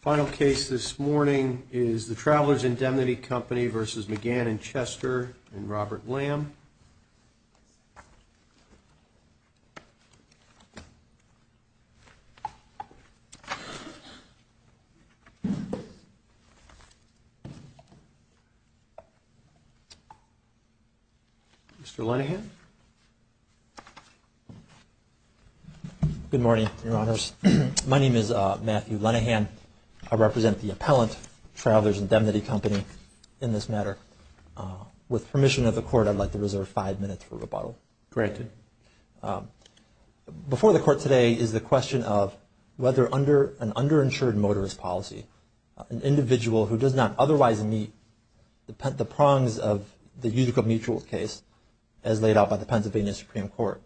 Final case this morning is the Travelers Indemnity Company v. Mcgann and Chester and Robert Lamb. Mr. Linehan. Good morning, Your Honors. My name is Matthew Linehan. I represent the appellant Travelers Indemnity Company in this matter. With permission of the Court, I'd like to reserve five minutes for rebuttal. Granted. Before the Court today is the question of whether an underinsured motorist policy, an individual who does not otherwise meet the prongs of the Pennsylvania Supreme Court,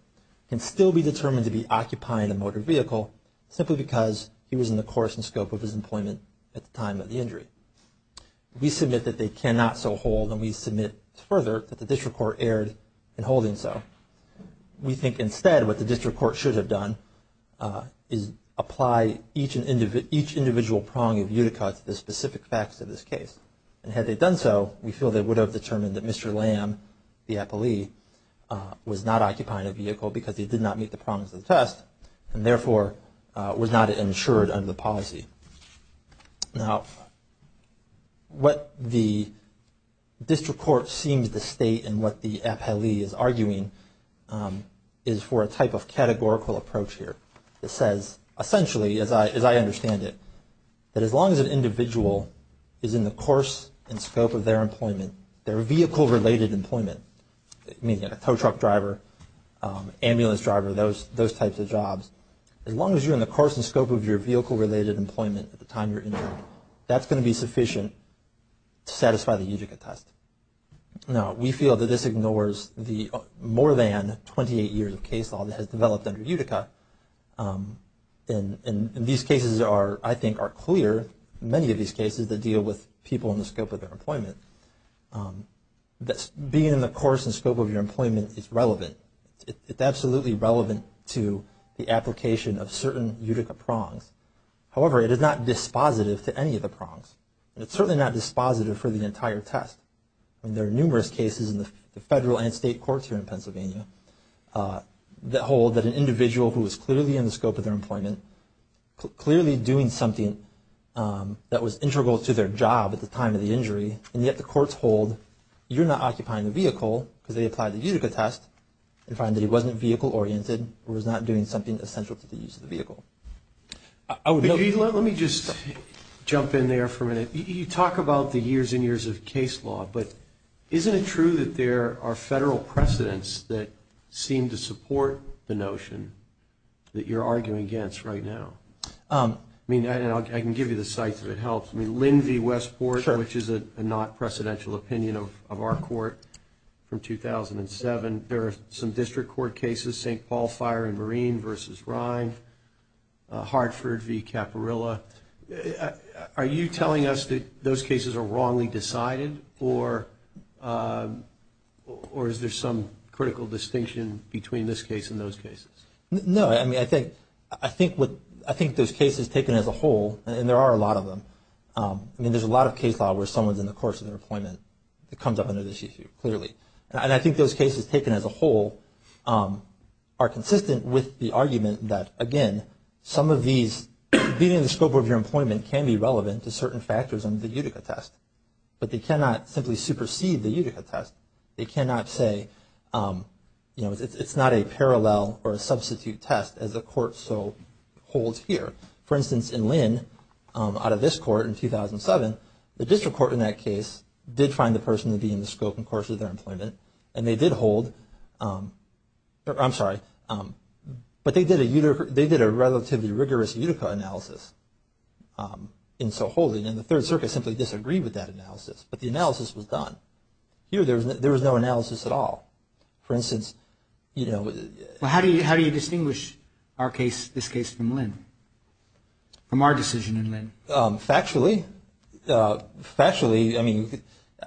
can still be determined to be occupying a motor vehicle simply because he was in the course and scope of his employment at the time of the injury. We submit that they cannot so hold and we submit further that the District Court erred in holding so. We think instead what the District Court should have done is apply each individual prong of Utica to the specific facts of this case. And had they done so, we feel they would have determined that Mr. Lamb, the appellee, was not occupying a vehicle because he did not meet the prongs of the test and therefore was not insured under the policy. Now, what the District Court seems to state and what the appellee is arguing is for a type of categorical approach here. It says essentially, as I understand it, that as long as an individual is in the course and scope of their employment, their vehicle-related employment, meaning a tow truck driver, ambulance driver, those types of jobs, as long as you're in the course and scope of your vehicle-related employment at the time you're injured, that's going to be sufficient to satisfy the Utica test. Now, we feel that this ignores the more than 28 years of case law that has developed under Utica. And these cases are, I think, are clear, many of these cases that deal with people in the scope of their employment. Being in the course and scope of your employment is relevant. It's absolutely relevant to the application of certain Utica prongs. However, it is not dispositive to any of the prongs. And it's certainly not dispositive for the entire test. I mean, there are numerous cases in the federal and state courts here in Pennsylvania that hold that an individual who was clearly in the scope of their employment, clearly doing something that was integral to their job at the time of the injury, and yet the courts hold, you're not occupying the vehicle because they applied the Utica test and find that he wasn't vehicle-oriented or was not doing something essential to the use of the vehicle. Let me just jump in there for a minute. You talk about the years and years of case law, but isn't it true that there are federal precedents that seem to support the notion that you're arguing against right now? I mean, I can give you the sites if it helps. I mean, Lin v. Westport, which is a not-presidential opinion of our court from 2007. There are some district court cases, St. Paul Fire and Marine v. Rind, Hartford v. Caparilla. Are you telling us that those cases are wrongly decided, or is there some critical distinction between this case and those cases? No. I mean, I think those cases taken as a whole, and there are a lot of them. I mean, there's a lot of case law where someone's in the course of their employment that comes up under this issue, clearly. And I think those cases taken as a whole are consistent with the argument that, again, some of these being in the scope of your employment can be relevant to certain factors under the Utica test, but they cannot simply supersede the Utica test. They cannot say, you know, it's not a parallel or a substitute test as the court so holds here. For instance, in Lin, out of this court in 2007, the district court in that case did find the person to be in the scope and course of their employment, and they did hold – I'm sorry. But they did a relatively rigorous Utica analysis in so holding, and the Third Circuit simply disagreed with that analysis, but the analysis was done. Here, there was no analysis at all. For instance, you know – Well, how do you distinguish this case from Lin, from our decision in Lin? Factually, I mean,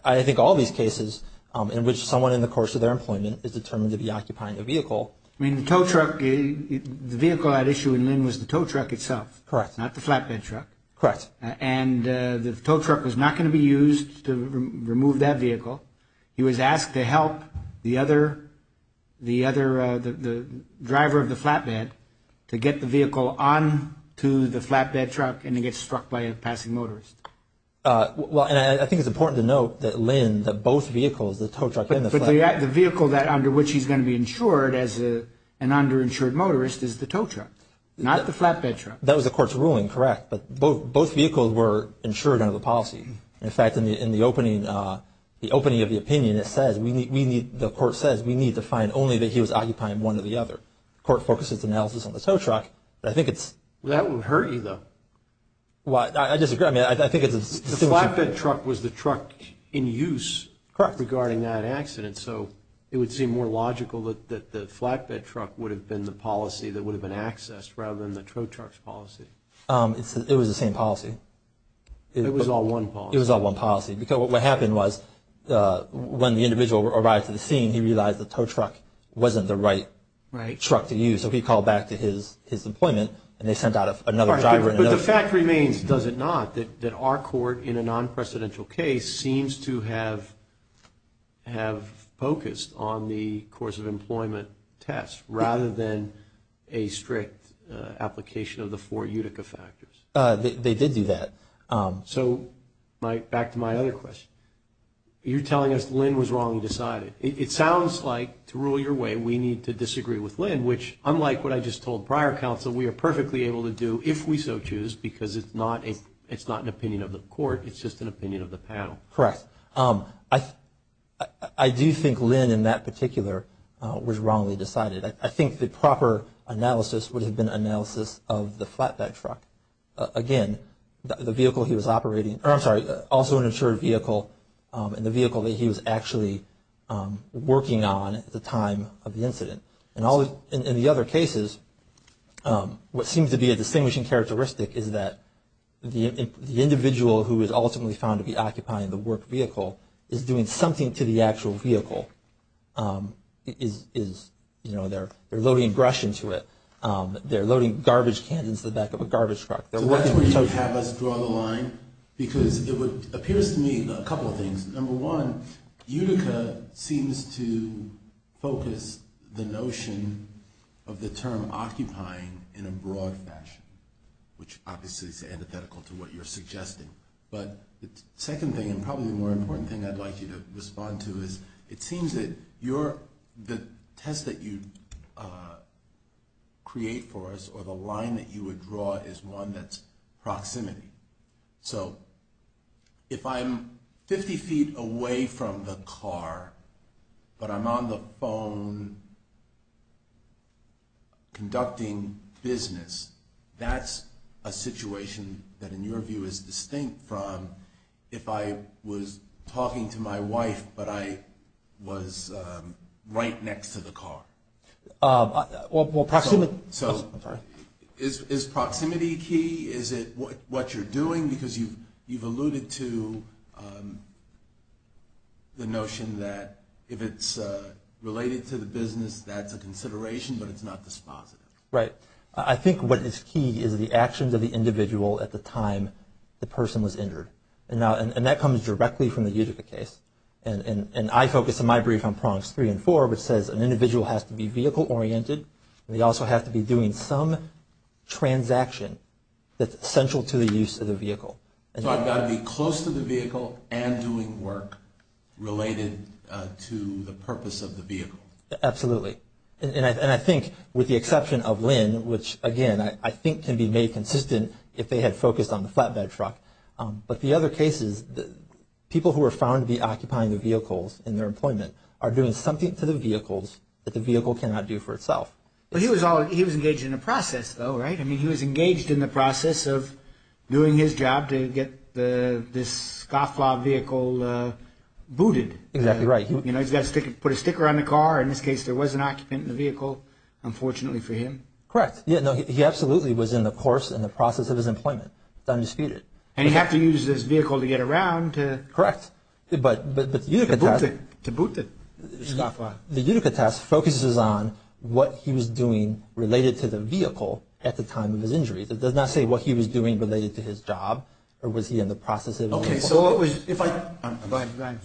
I think all these cases in which someone in the course of their employment is determined to be occupying a vehicle. I mean, the tow truck – the vehicle at issue in Lin was the tow truck itself. Correct. Not the flatbed truck. Correct. And the tow truck was not going to be used to remove that vehicle. He was asked to help the other – the driver of the flatbed to get the vehicle onto the flatbed truck, and he gets struck by a passing motorist. Well, and I think it's important to note that Lin – that both vehicles, the tow truck and the flatbed – But the vehicle that – under which he's going to be insured as an underinsured motorist is the tow truck, not the flatbed truck. That was the court's ruling. Correct. But both vehicles were insured under the policy. In fact, in the opening – the opening of the opinion, it says we need – the court says we need to find only that he was occupying one or the other. The court focuses analysis on the tow truck, but I think it's – That would hurt you, though. Well, I disagree. I mean, I think it's a – The flatbed truck was the truck in use. Correct. Regarding that accident, so it would seem more logical that the flatbed truck would have been the policy that would have been accessed rather than the tow truck's policy. It was the same policy. It was all one policy. It was all one policy, because what happened was when the individual arrived to the scene, he realized the tow truck wasn't the right truck to use, so he called back to his employment, and they sent out another driver and another – But the fact remains, does it not, that our court, in a non-precedential case, seems to have focused on the course of employment test rather than a strict application of the four Utica factors. They did do that. So back to my other question. You're telling us Lynn was wrongly decided. It sounds like, to rule your way, we need to disagree with Lynn, which, unlike what I just told prior counsel, we are perfectly able to do if we so choose, because it's not an opinion of the court, it's just an opinion of the panel. Correct. I do think Lynn, in that particular, was wrongly decided. I think the proper analysis would have been analysis of the flatbed truck. Again, the vehicle he was operating – or, I'm sorry, also an insured vehicle, and the vehicle that he was actually working on at the time of the incident. In the other cases, what seems to be a distinguishing characteristic is that the individual who is ultimately found to be occupying the work vehicle is doing something to the actual vehicle. They're loading brush into it. They're loading garbage cans into the back of a garbage truck. So that's where you would have us draw the line? Because it appears to me a couple of things. Number one, Utica seems to focus the notion of the term occupying in a broad fashion, which obviously is antithetical to what you're suggesting. But the second thing, and probably the more important thing I'd like you to respond to, is it seems that the test that you create for us, or the line that you would draw, is one that's proximity. So if I'm 50 feet away from the car, but I'm on the phone conducting business, that's a situation that in your view is distinct from if I was talking to my wife, but I was right next to the car. Is proximity key? Is it what you're doing? Because you've alluded to the notion that if it's related to the business, that's a consideration, but it's not dispositive. Right. I think what is key is the actions of the individual at the time the person was injured. And that comes directly from the Utica case. And I focus in my brief on Proverbs 3 and 4, which says an individual has to be vehicle oriented, and they also have to be doing some transaction that's essential to the use of the vehicle. So I've got to be close to the vehicle and doing work related to the purpose of the vehicle. Absolutely. And I think with the exception of Lynn, which again I think can be made consistent if they had focused on the flatbed truck. But the other case is people who are found to be occupying the vehicles in their employment are doing something to the vehicles that the vehicle cannot do for itself. He was engaged in the process, though, right? I mean he was engaged in the process of doing his job to get this scofflaw vehicle booted. Exactly right. Put a sticker on the car. In this case there was an occupant in the vehicle, unfortunately for him. Correct. He absolutely was in the course and the process of his employment, undisputed. And he had to use this vehicle to get around to boot the scofflaw. The Utica test focuses on what he was doing related to the vehicle at the time of his injury. It does not say what he was doing related to his job or was he in the process of his employment.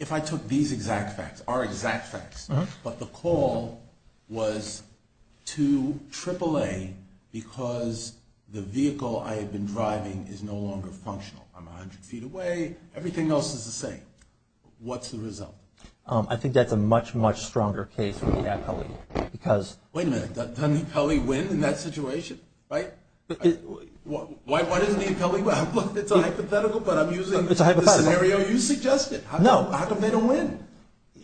If I took these exact facts, our exact facts, but the call was to AAA because the vehicle I had been driving is no longer functional. I'm 100 feet away. Everything else is the same. What's the result? I think that's a much, much stronger case for the appellee because Wait a minute. Doesn't the appellee win in that situation? Right? Why doesn't the appellee win? It's a hypothetical, but I'm using the scenario you suggested. No. How come they don't win?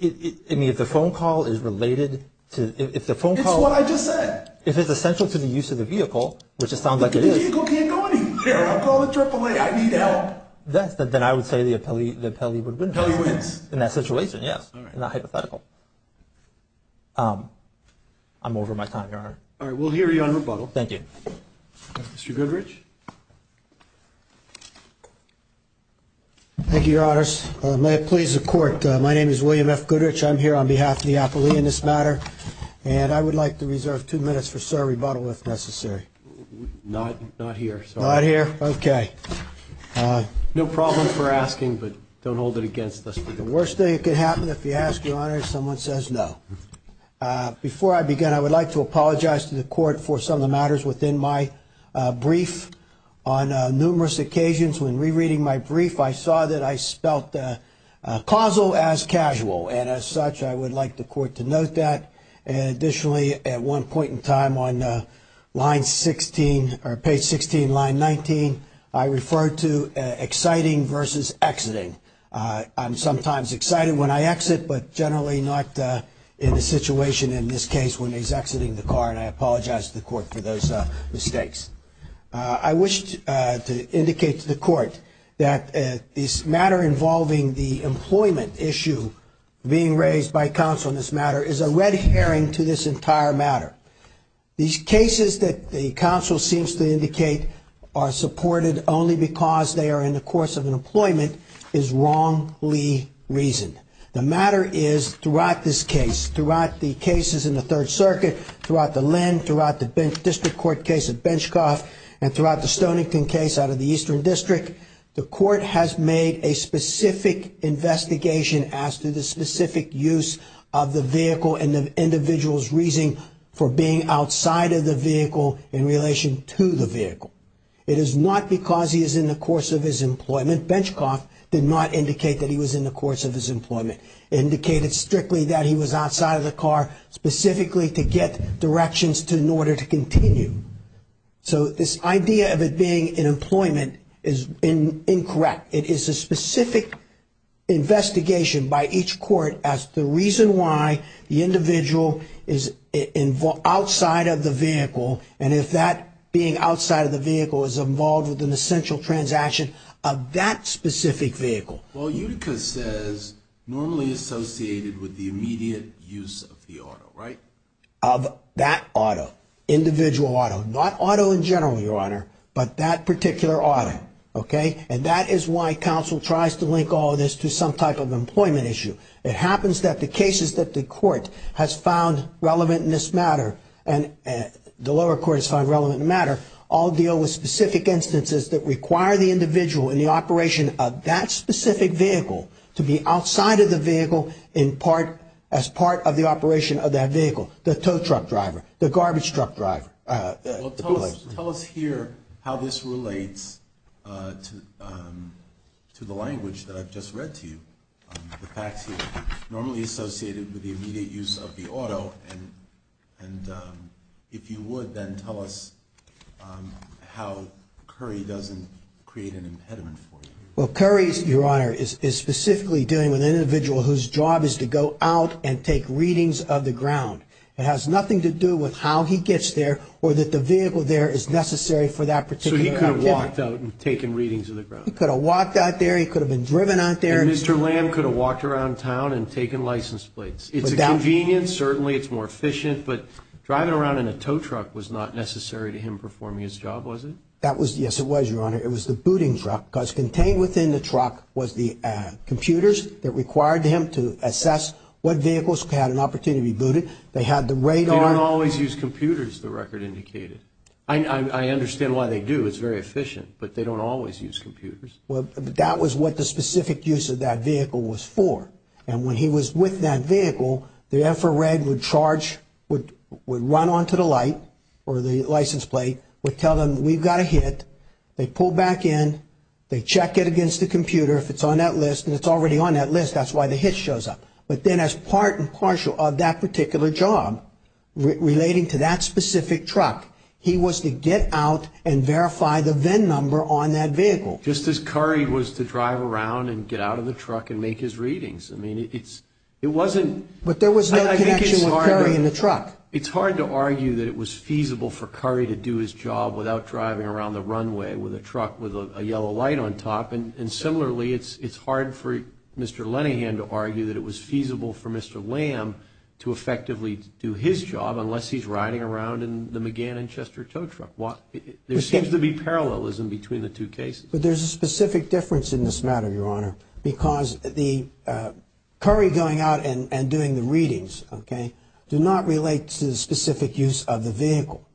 I mean, if the phone call is related to, if the phone call It's what I just said. If it's essential to the use of the vehicle, which it sounds like it is The vehicle can't go anywhere. I'll call the AAA. I need help. Then I would say the appellee would win. The appellee wins. In that situation, yes. Not hypothetical. I'm over my time, Your Honor. All right. We'll hear you on rebuttal. Thank you. Mr. Goodrich. Thank you, Your Honors. May it please the court. My name is William F. Goodrich. I'm here on behalf of the appellee in this matter. And I would like to reserve two minutes for sir rebuttal if necessary. Not here. Not here? Okay. No problem for asking, but don't hold it against us. The worst thing that could happen if you ask, Your Honor, is someone says no. Before I begin, I would like to apologize to the court for some of the matters within my brief. On numerous occasions when rereading my brief, I saw that I spelt causal as casual. And as such, I would like the court to note that. Additionally, at one point in time on line 16 or page 16, line 19, I referred to exciting versus exiting. I'm sometimes excited when I exit, but generally not in the situation in this case when he's exiting the car. And I apologize to the court for those mistakes. I wish to indicate to the court that this matter involving the employment issue being raised by counsel in this matter is a red herring to this entire matter. These cases that the counsel seems to indicate are supported only because they are in the course of an employment is wrongly reasoned. The matter is throughout this case, throughout the cases in the Third Circuit, throughout the LEND, throughout the district court case at Benchcoff, and throughout the Stonington case out of the Eastern District, the court has made a specific investigation as to the specific use of the vehicle and the individual's reason for being outside of the vehicle in relation to the vehicle. It is not because he is in the course of his employment. Benchcoff did not indicate that he was in the course of his employment. It indicated strictly that he was outside of the car specifically to get directions in order to continue. So this idea of it being an employment is incorrect. It is a specific investigation by each court as to the reason why the individual is outside of the vehicle and if that being outside of the vehicle is involved with an essential transaction of that specific vehicle. Well, Utica says normally associated with the immediate use of the auto, right? Of that auto, individual auto. Not auto in general, Your Honor, but that particular auto. And that is why counsel tries to link all of this to some type of employment issue. It happens that the cases that the court has found relevant in this matter, and the lower court has found relevant in this matter, all deal with specific instances that require the individual in the operation of that specific vehicle to be outside of the vehicle as part of the operation of that vehicle. The tow truck driver, the garbage truck driver. Tell us here how this relates to the language that I've just read to you. The facts here, normally associated with the immediate use of the auto, and if you would then tell us how Curry doesn't create an impediment for you. Well, Curry, Your Honor, is specifically dealing with an individual whose job is to go out and take readings of the ground. It has nothing to do with how he gets there or that the vehicle there is necessary for that particular activity. So he could have walked out and taken readings of the ground. He could have walked out there. He could have been driven out there. And Mr. Lamb could have walked around town and taken license plates. It's a convenience. Certainly, it's more efficient. But driving around in a tow truck was not necessary to him performing his job, was it? Yes, it was, Your Honor. It was the booting truck because contained within the truck was the computers that required him to assess what vehicles had an opportunity to be booted. They had the radar. They don't always use computers, the record indicated. I understand why they do. It's very efficient. But they don't always use computers. Well, that was what the specific use of that vehicle was for. And when he was with that vehicle, the infrared would charge, would run onto the light or the license plate, would tell them we've got a hit. They pull back in. They check it against the computer if it's on that list. And it's already on that list. That's why the hit shows up. But then as part and parcel of that particular job relating to that specific truck, he was to get out and verify the VIN number on that vehicle. Just as Curry was to drive around and get out of the truck and make his readings. I mean, it wasn't – But there was no connection with Curry in the truck. It's hard to argue that it was feasible for Curry to do his job without driving around the runway with a truck with a yellow light on top. And similarly, it's hard for Mr. Lenihan to argue that it was feasible for Mr. Lamb to effectively do his job unless he's riding around in the McGann and Chester tow truck. There seems to be parallelism between the two cases. But there's a specific difference in this matter, Your Honor, because the Curry going out and doing the readings, okay, do not relate to the specific use of the vehicle.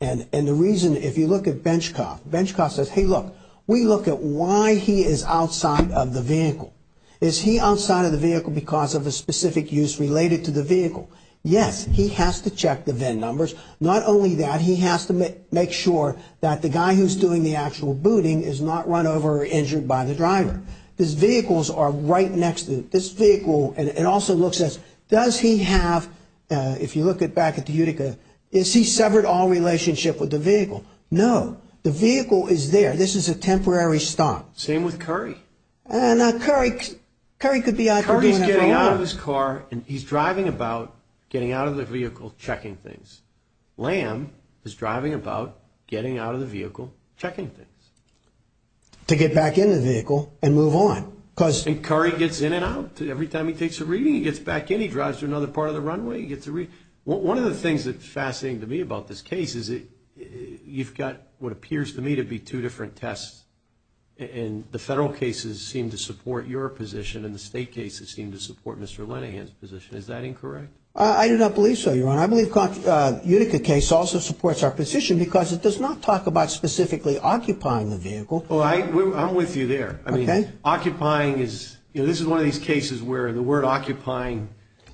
And the reason, if you look at Benchcoff, Benchcoff says, hey, look, we look at why he is outside of the vehicle. Is he outside of the vehicle because of a specific use related to the vehicle? Yes. He has to check the VIN numbers. Not only that, he has to make sure that the guy who's doing the actual booting is not run over or injured by the driver. His vehicles are right next to him. This vehicle – and it also looks as – does he have – if you look back at the Utica, is he severed all relationship with the vehicle? No. No. The vehicle is there. This is a temporary stop. Same with Curry. Now, Curry could be – Curry's getting out of his car and he's driving about, getting out of the vehicle, checking things. Lamb is driving about, getting out of the vehicle, checking things. To get back in the vehicle and move on because – And Curry gets in and out. Every time he takes a reading, he gets back in. He drives to another part of the runway. One of the things that's fascinating to me about this case is you've got, what appears to me to be two different tests, and the federal cases seem to support your position and the state cases seem to support Mr. Lenninghan's position. Is that incorrect? I do not believe so, Your Honor. I believe the Utica case also supports our position because it does not talk about specifically occupying the vehicle. Well, I'm with you there. I mean, occupying is – you know, this is one of these cases where the word occupying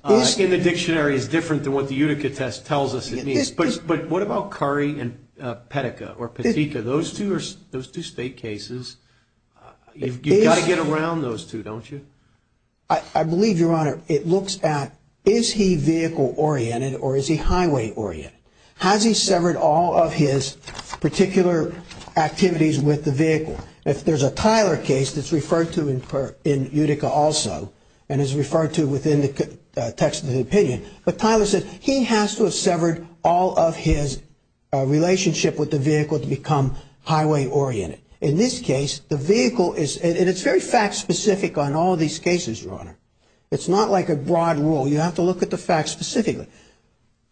in the dictionary is different than what the Utica test tells us it means. But what about Curry and Pettica or Pettica? Those two state cases, you've got to get around those two, don't you? I believe, Your Honor, it looks at is he vehicle-oriented or is he highway-oriented? Has he severed all of his particular activities with the vehicle? If there's a Tyler case that's referred to in Utica also and is referred to within the text of the opinion, but Tyler says he has to have severed all of his relationship with the vehicle to become highway-oriented. In this case, the vehicle is – and it's very fact-specific on all of these cases, Your Honor. It's not like a broad rule. You have to look at the facts specifically.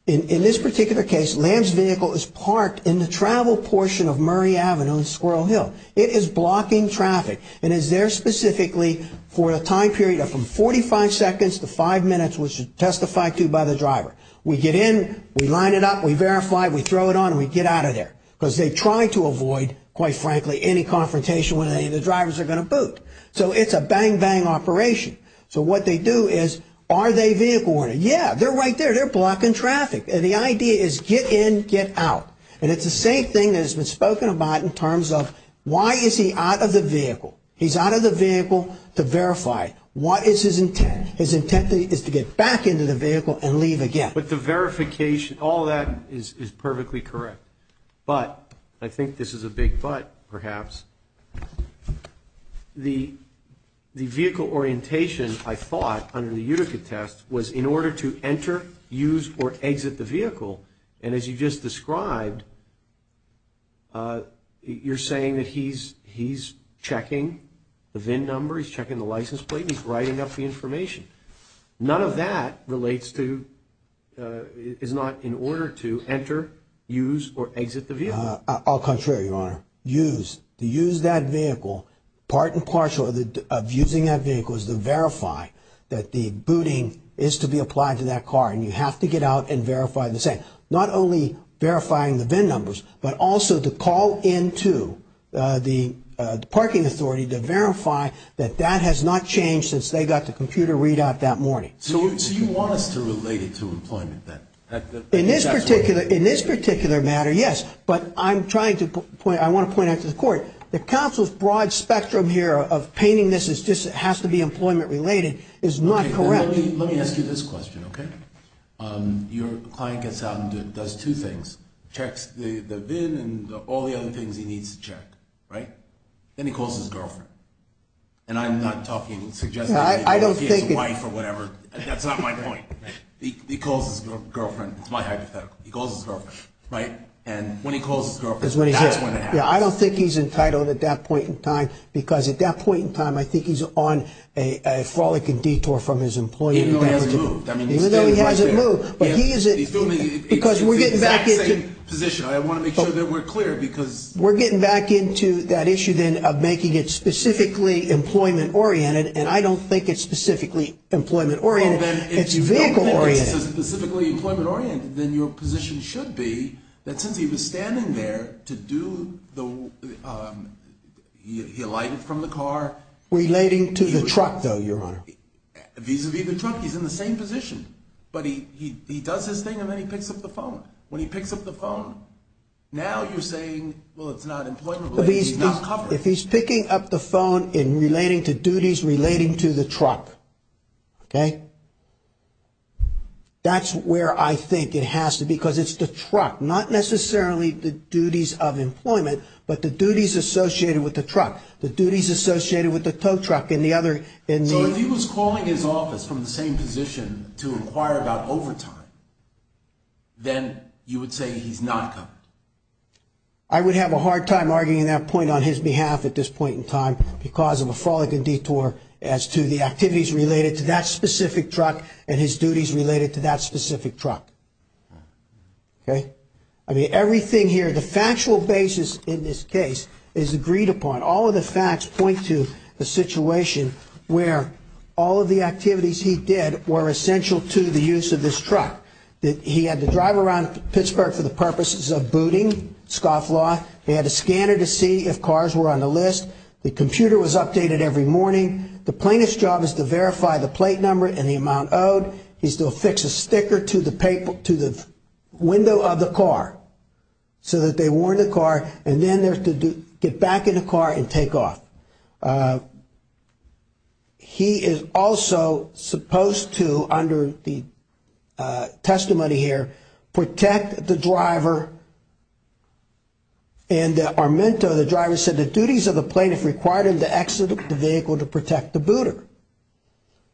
In this particular case, Lamb's vehicle is parked in the travel portion of Murray Avenue and Squirrel Hill. It is blocking traffic and is there specifically for a time period of from 45 seconds to five minutes, which is testified to by the driver. We get in, we line it up, we verify, we throw it on, and we get out of there because they try to avoid, quite frankly, any confrontation with any of the drivers that are going to boot. So it's a bang-bang operation. So what they do is are they vehicle-oriented? Yeah, they're right there. They're blocking traffic. And the idea is get in, get out. And it's the same thing that has been spoken about in terms of why is he out of the vehicle. He's out of the vehicle to verify. What is his intent? His intent is to get back into the vehicle and leave again. But the verification, all that is perfectly correct. But, I think this is a big but perhaps, the vehicle orientation, I thought, under the Utica test was in order to enter, use, or exit the vehicle. And as you just described, you're saying that he's checking the VIN number, he's checking the license plate, he's writing up the information. None of that relates to, is not in order to enter, use, or exit the vehicle. All contrary, Your Honor. Use, to use that vehicle, part and parcel of using that vehicle is to verify that the booting is to be applied to that car. And you have to get out and verify the same, not only verifying the VIN numbers, but also to call into the parking authority to verify that that has not changed since they got the computer readout that morning. So you want us to relate it to employment then? In this particular matter, yes. But I'm trying to point, I want to point out to the court, the counsel's broad spectrum here of painting this as just has to be employment related is not correct. Let me ask you this question, okay? Your client gets out and does two things, checks the VIN and all the other things he needs to check, right? Then he calls his girlfriend. And I'm not talking, suggesting that he calls his wife or whatever. That's not my point. He calls his girlfriend. It's my hypothetical. He calls his girlfriend, right? And when he calls his girlfriend, that's when it happens. Yeah, I don't think he's entitled at that point in time because at that point in time, I think he's on a frolicking detour from his employer. Even though he hasn't moved. Even though he hasn't moved. He's still in the exact same position. I want to make sure that we're clear because. We're getting back into that issue then of making it specifically employment oriented. And I don't think it's specifically employment oriented. It's vehicle oriented. If you don't think it's specifically employment oriented, then your position should be that since he was standing there to do the, he alighted from the car. Relating to the truck though, Your Honor. Vis-a-vis the truck, he's in the same position. But he does his thing and then he picks up the phone. When he picks up the phone, now you're saying, well, it's not employment related. He's not covered. If he's picking up the phone and relating to duties relating to the truck, okay? That's where I think it has to be because it's the truck. Not necessarily the duties of employment, but the duties associated with the truck. The duties associated with the tow truck and the other. So if he was calling his office from the same position to inquire about overtime, then you would say he's not covered. I would have a hard time arguing that point on his behalf at this point in time because of a frolicking detour as to the activities related to that specific truck and his duties related to that specific truck. Okay? I mean, everything here, the factual basis in this case is agreed upon. All of the facts point to a situation where all of the activities he did were essential to the use of this truck. He had to drive around Pittsburgh for the purposes of booting, scoff law. He had to scan it to see if cars were on the list. The computer was updated every morning. The plaintiff's job is to verify the plate number and the amount owed. He still affixes a sticker to the window of the car so that they warn the car, and then they're to get back in the car and take off. He is also supposed to, under the testimony here, protect the driver. And Armento, the driver, said the duties of the plaintiff required him to exit the vehicle to protect the booter.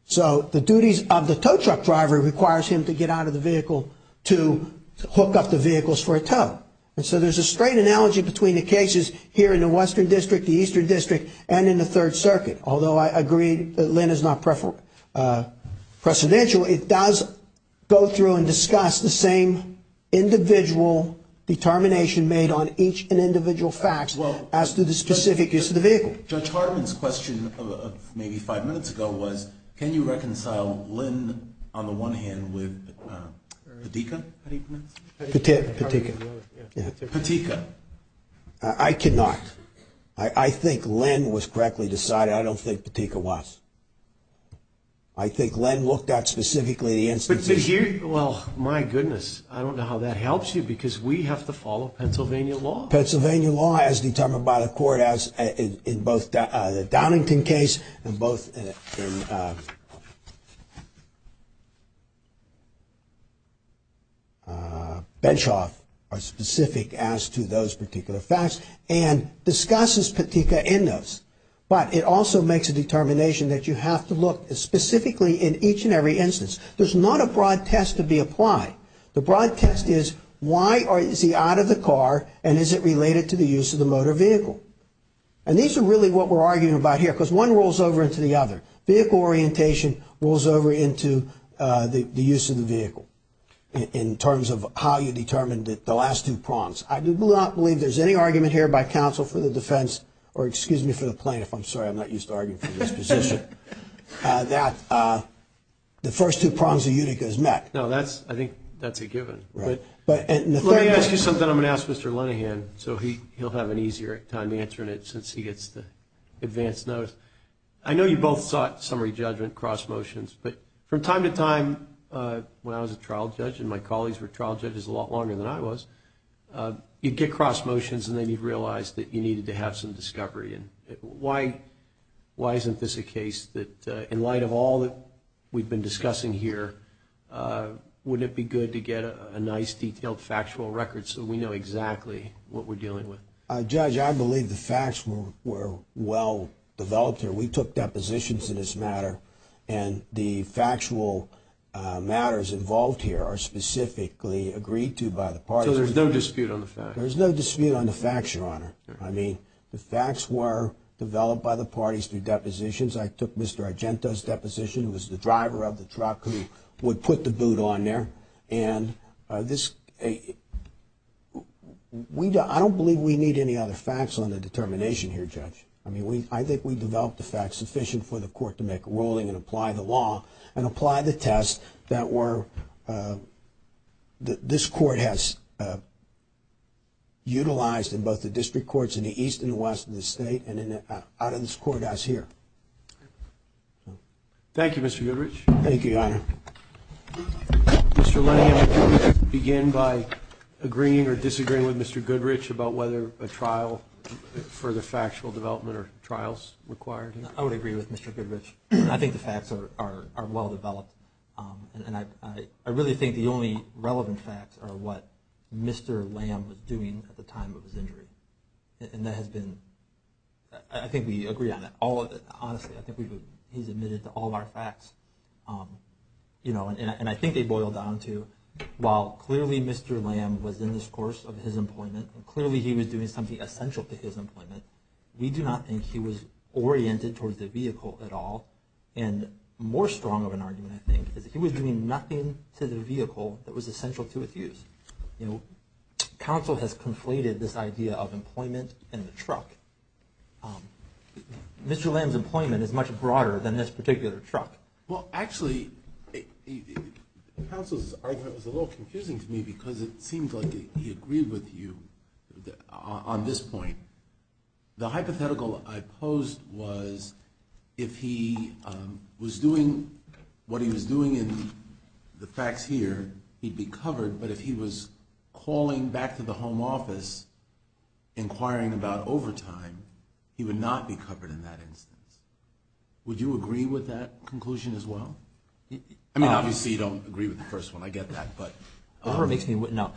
So the duties of the tow truck driver requires him to get out of the vehicle to hook up the vehicles for a tow. And so there's a straight analogy between the cases here in the Western District, the Eastern District, and in the Third Circuit. Although I agree that Lynn is not precedential, it does go through and discuss the same individual determination made on each and individual facts as to the specific use of the vehicle. Judge Hartman's question maybe five minutes ago was, can you reconcile Lynn, on the one hand, with Petika? Petika. I cannot. I think Lynn was correctly decided. I don't think Petika was. I think Lynn looked at specifically the instances. Well, my goodness. I don't know how that helps you because we have to follow Pennsylvania law. Pennsylvania law as determined by the court in both the Downington case and both in Benchoff are specific as to those particular facts and discusses Petika in those. But it also makes a determination that you have to look specifically in each and every instance. There's not a broad test to be applied. The broad test is, why is he out of the car and is it related to the use of the motor vehicle? And these are really what we're arguing about here because one rolls over into the other. Vehicle orientation rolls over into the use of the vehicle in terms of how you determined the last two prongs. I do not believe there's any argument here by counsel for the defense or excuse me for the plaintiff, I'm sorry, I'm not used to arguing for this position, that the first two prongs of Utica is met. No, I think that's a given. Let me ask you something I'm going to ask Mr. Linehan so he'll have an easier time answering it since he gets the advance notice. I know you both sought summary judgment, cross motions, but from time to time when I was a trial judge and my colleagues were trial judges a lot longer than I was, you'd get cross motions and then you'd realize that you needed to have some discovery. Why isn't this a case that in light of all that we've been discussing here, wouldn't it be good to get a nice detailed factual record so we know exactly what we're dealing with? Judge, I believe the facts were well developed here. We took depositions in this matter and the factual matters involved here are specifically agreed to by the parties. So there's no dispute on the facts? There's no dispute on the facts, Your Honor. I mean, the facts were developed by the parties through depositions. I took Mr. Argento's deposition. He was the driver of the truck who would put the boot on there. And I don't believe we need any other facts on the determination here, Judge. I mean, I think we've developed the facts sufficient for the court to make a ruling and apply the law and apply the test that this court has utilized in both the district courts in the east and the west of the state and out of this court as here. Thank you, Mr. Goodrich. Thank you, Your Honor. Mr. Lamb, would you like to begin by agreeing or disagreeing with Mr. Goodrich about whether a trial for the factual development or trials required? I would agree with Mr. Goodrich. I think the facts are well developed. And I really think the only relevant facts are what Mr. Lamb was doing at the time of his injury. And that has been – I think we agree on that. Honestly, I think he's admitted to all of our facts. And I think they boil down to, while clearly Mr. Lamb was in this course of his employment and clearly he was doing something essential to his employment, we do not think he was oriented towards the vehicle at all. And more strong of an argument, I think, is he was doing nothing to the vehicle that was essential to its use. Counsel has conflated this idea of employment and the truck. Mr. Lamb's employment is much broader than this particular truck. Well, actually, counsel's argument was a little confusing to me because it seemed like he agreed with you on this point. The hypothetical I posed was, if he was doing what he was doing in the facts here, he'd be covered. But if he was calling back to the home office inquiring about overtime, he would not be covered in that instance. Would you agree with that conclusion as well? I mean, obviously you don't agree with the first one. I get that. Whatever makes me – no.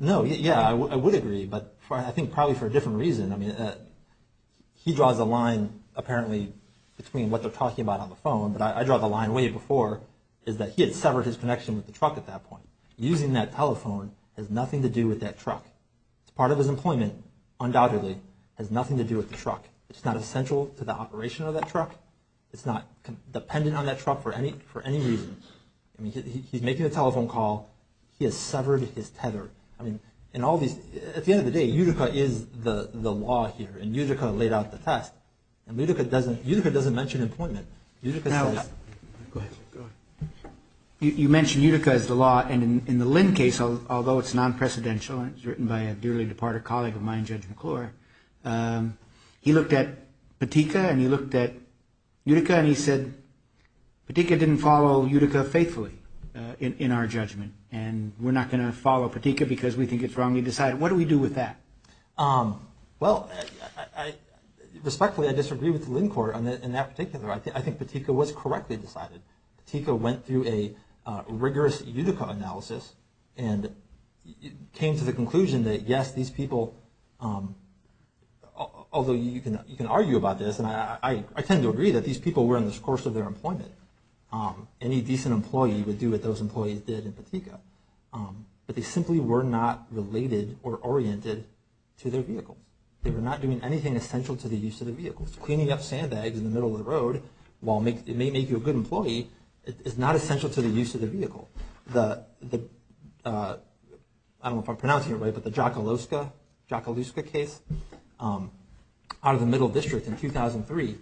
No, yeah, I would agree. But I think probably for a different reason. I mean, he draws a line, apparently, between what they're talking about on the phone, but I draw the line way before, is that he had severed his connection with the truck at that point. Using that telephone has nothing to do with that truck. Part of his employment, undoubtedly, has nothing to do with the truck. It's not essential to the operation of that truck. It's not dependent on that truck for any reason. I mean, he's making a telephone call. He has severed his tether. At the end of the day, Utica is the law here, and Utica laid out the test. Utica doesn't mention employment. Go ahead. You mentioned Utica as the law, and in the Lynn case, although it's non-precedential, and it's written by a dearly departed colleague of mine, Judge McClure, he looked at Pettica and he looked at Utica and he said, Pettica didn't follow Utica faithfully in our judgment, and we're not going to follow Pettica because we think it's wrong. He decided, what do we do with that? Well, respectfully, I disagree with the Lynn court in that particular. I think Pettica was correctly decided. Pettica went through a rigorous Utica analysis and came to the conclusion that, yes, these people, although you can argue about this, and I tend to agree that these people were in the course of their employment. Any decent employee would do what those employees did in Pettica, but they simply were not related or oriented to their vehicle. They were not doing anything essential to the use of the vehicle. Cleaning up sandbags in the middle of the road, while it may make you a good employee, is not essential to the use of the vehicle. The, I don't know if I'm pronouncing it right, but the Jakaluska case out of the Middle District in 2003,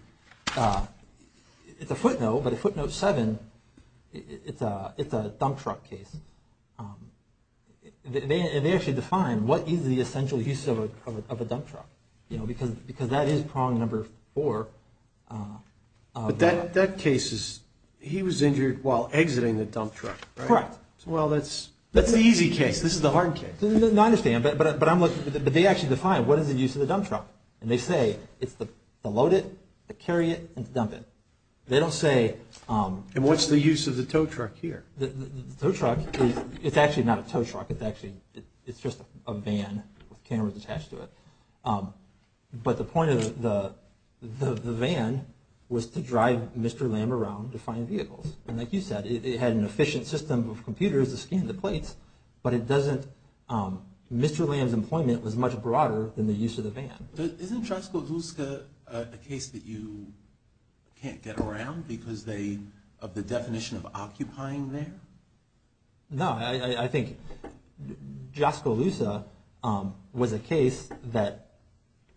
it's a footnote, but a footnote seven, it's a dump truck case. They actually define what is the essential use of a dump truck, because that is prong number four. But that case is, he was injured while exiting the dump truck, right? Correct. Well, that's the easy case. This is the hard case. I understand, but they actually define what is the use of the dump truck. And they say it's to load it, to carry it, and to dump it. They don't say. And what's the use of the tow truck here? The tow truck is, it's actually not a tow truck. It's actually, it's just a van with cameras attached to it. But the point of the van was to drive Mr. Lamb around to find vehicles. And like you said, it had an efficient system of computers to scan the plates, but it doesn't, Mr. Lamb's employment was much broader than the use of the van. Isn't Jaskolouska a case that you can't get around because they, of the definition of occupying there? No, I think Jaskolouska was a case that,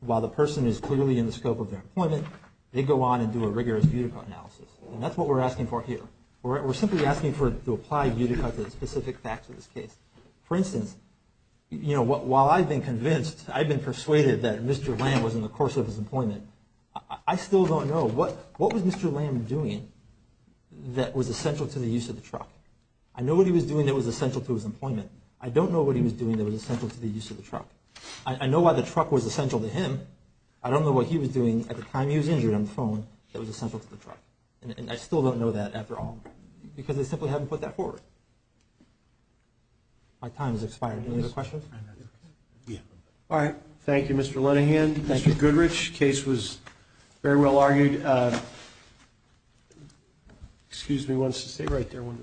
while the person is clearly in the scope of their employment, they go on and do a rigorous Butika analysis. And that's what we're asking for here. We're simply asking to apply Butika to the specific facts of this case. For instance, you know, while I've been convinced, I've been persuaded that Mr. Lamb was in the course of his employment, I still don't know, what was Mr. Lamb doing that was essential to the use of the truck? I know what he was doing that was essential to his employment. I don't know what he was doing that was essential to the use of the truck. I know why the truck was essential to him. I don't know what he was doing at the time he was injured on the phone that was essential to the truck. And I still don't know that after all, because they simply haven't put that forward. My time has expired. Any other questions? Yeah. All right. Thank you, Mr. Linehan. Thank you, Goodrich. Case was very well argued. Excuse me one second. Stay right there one minute.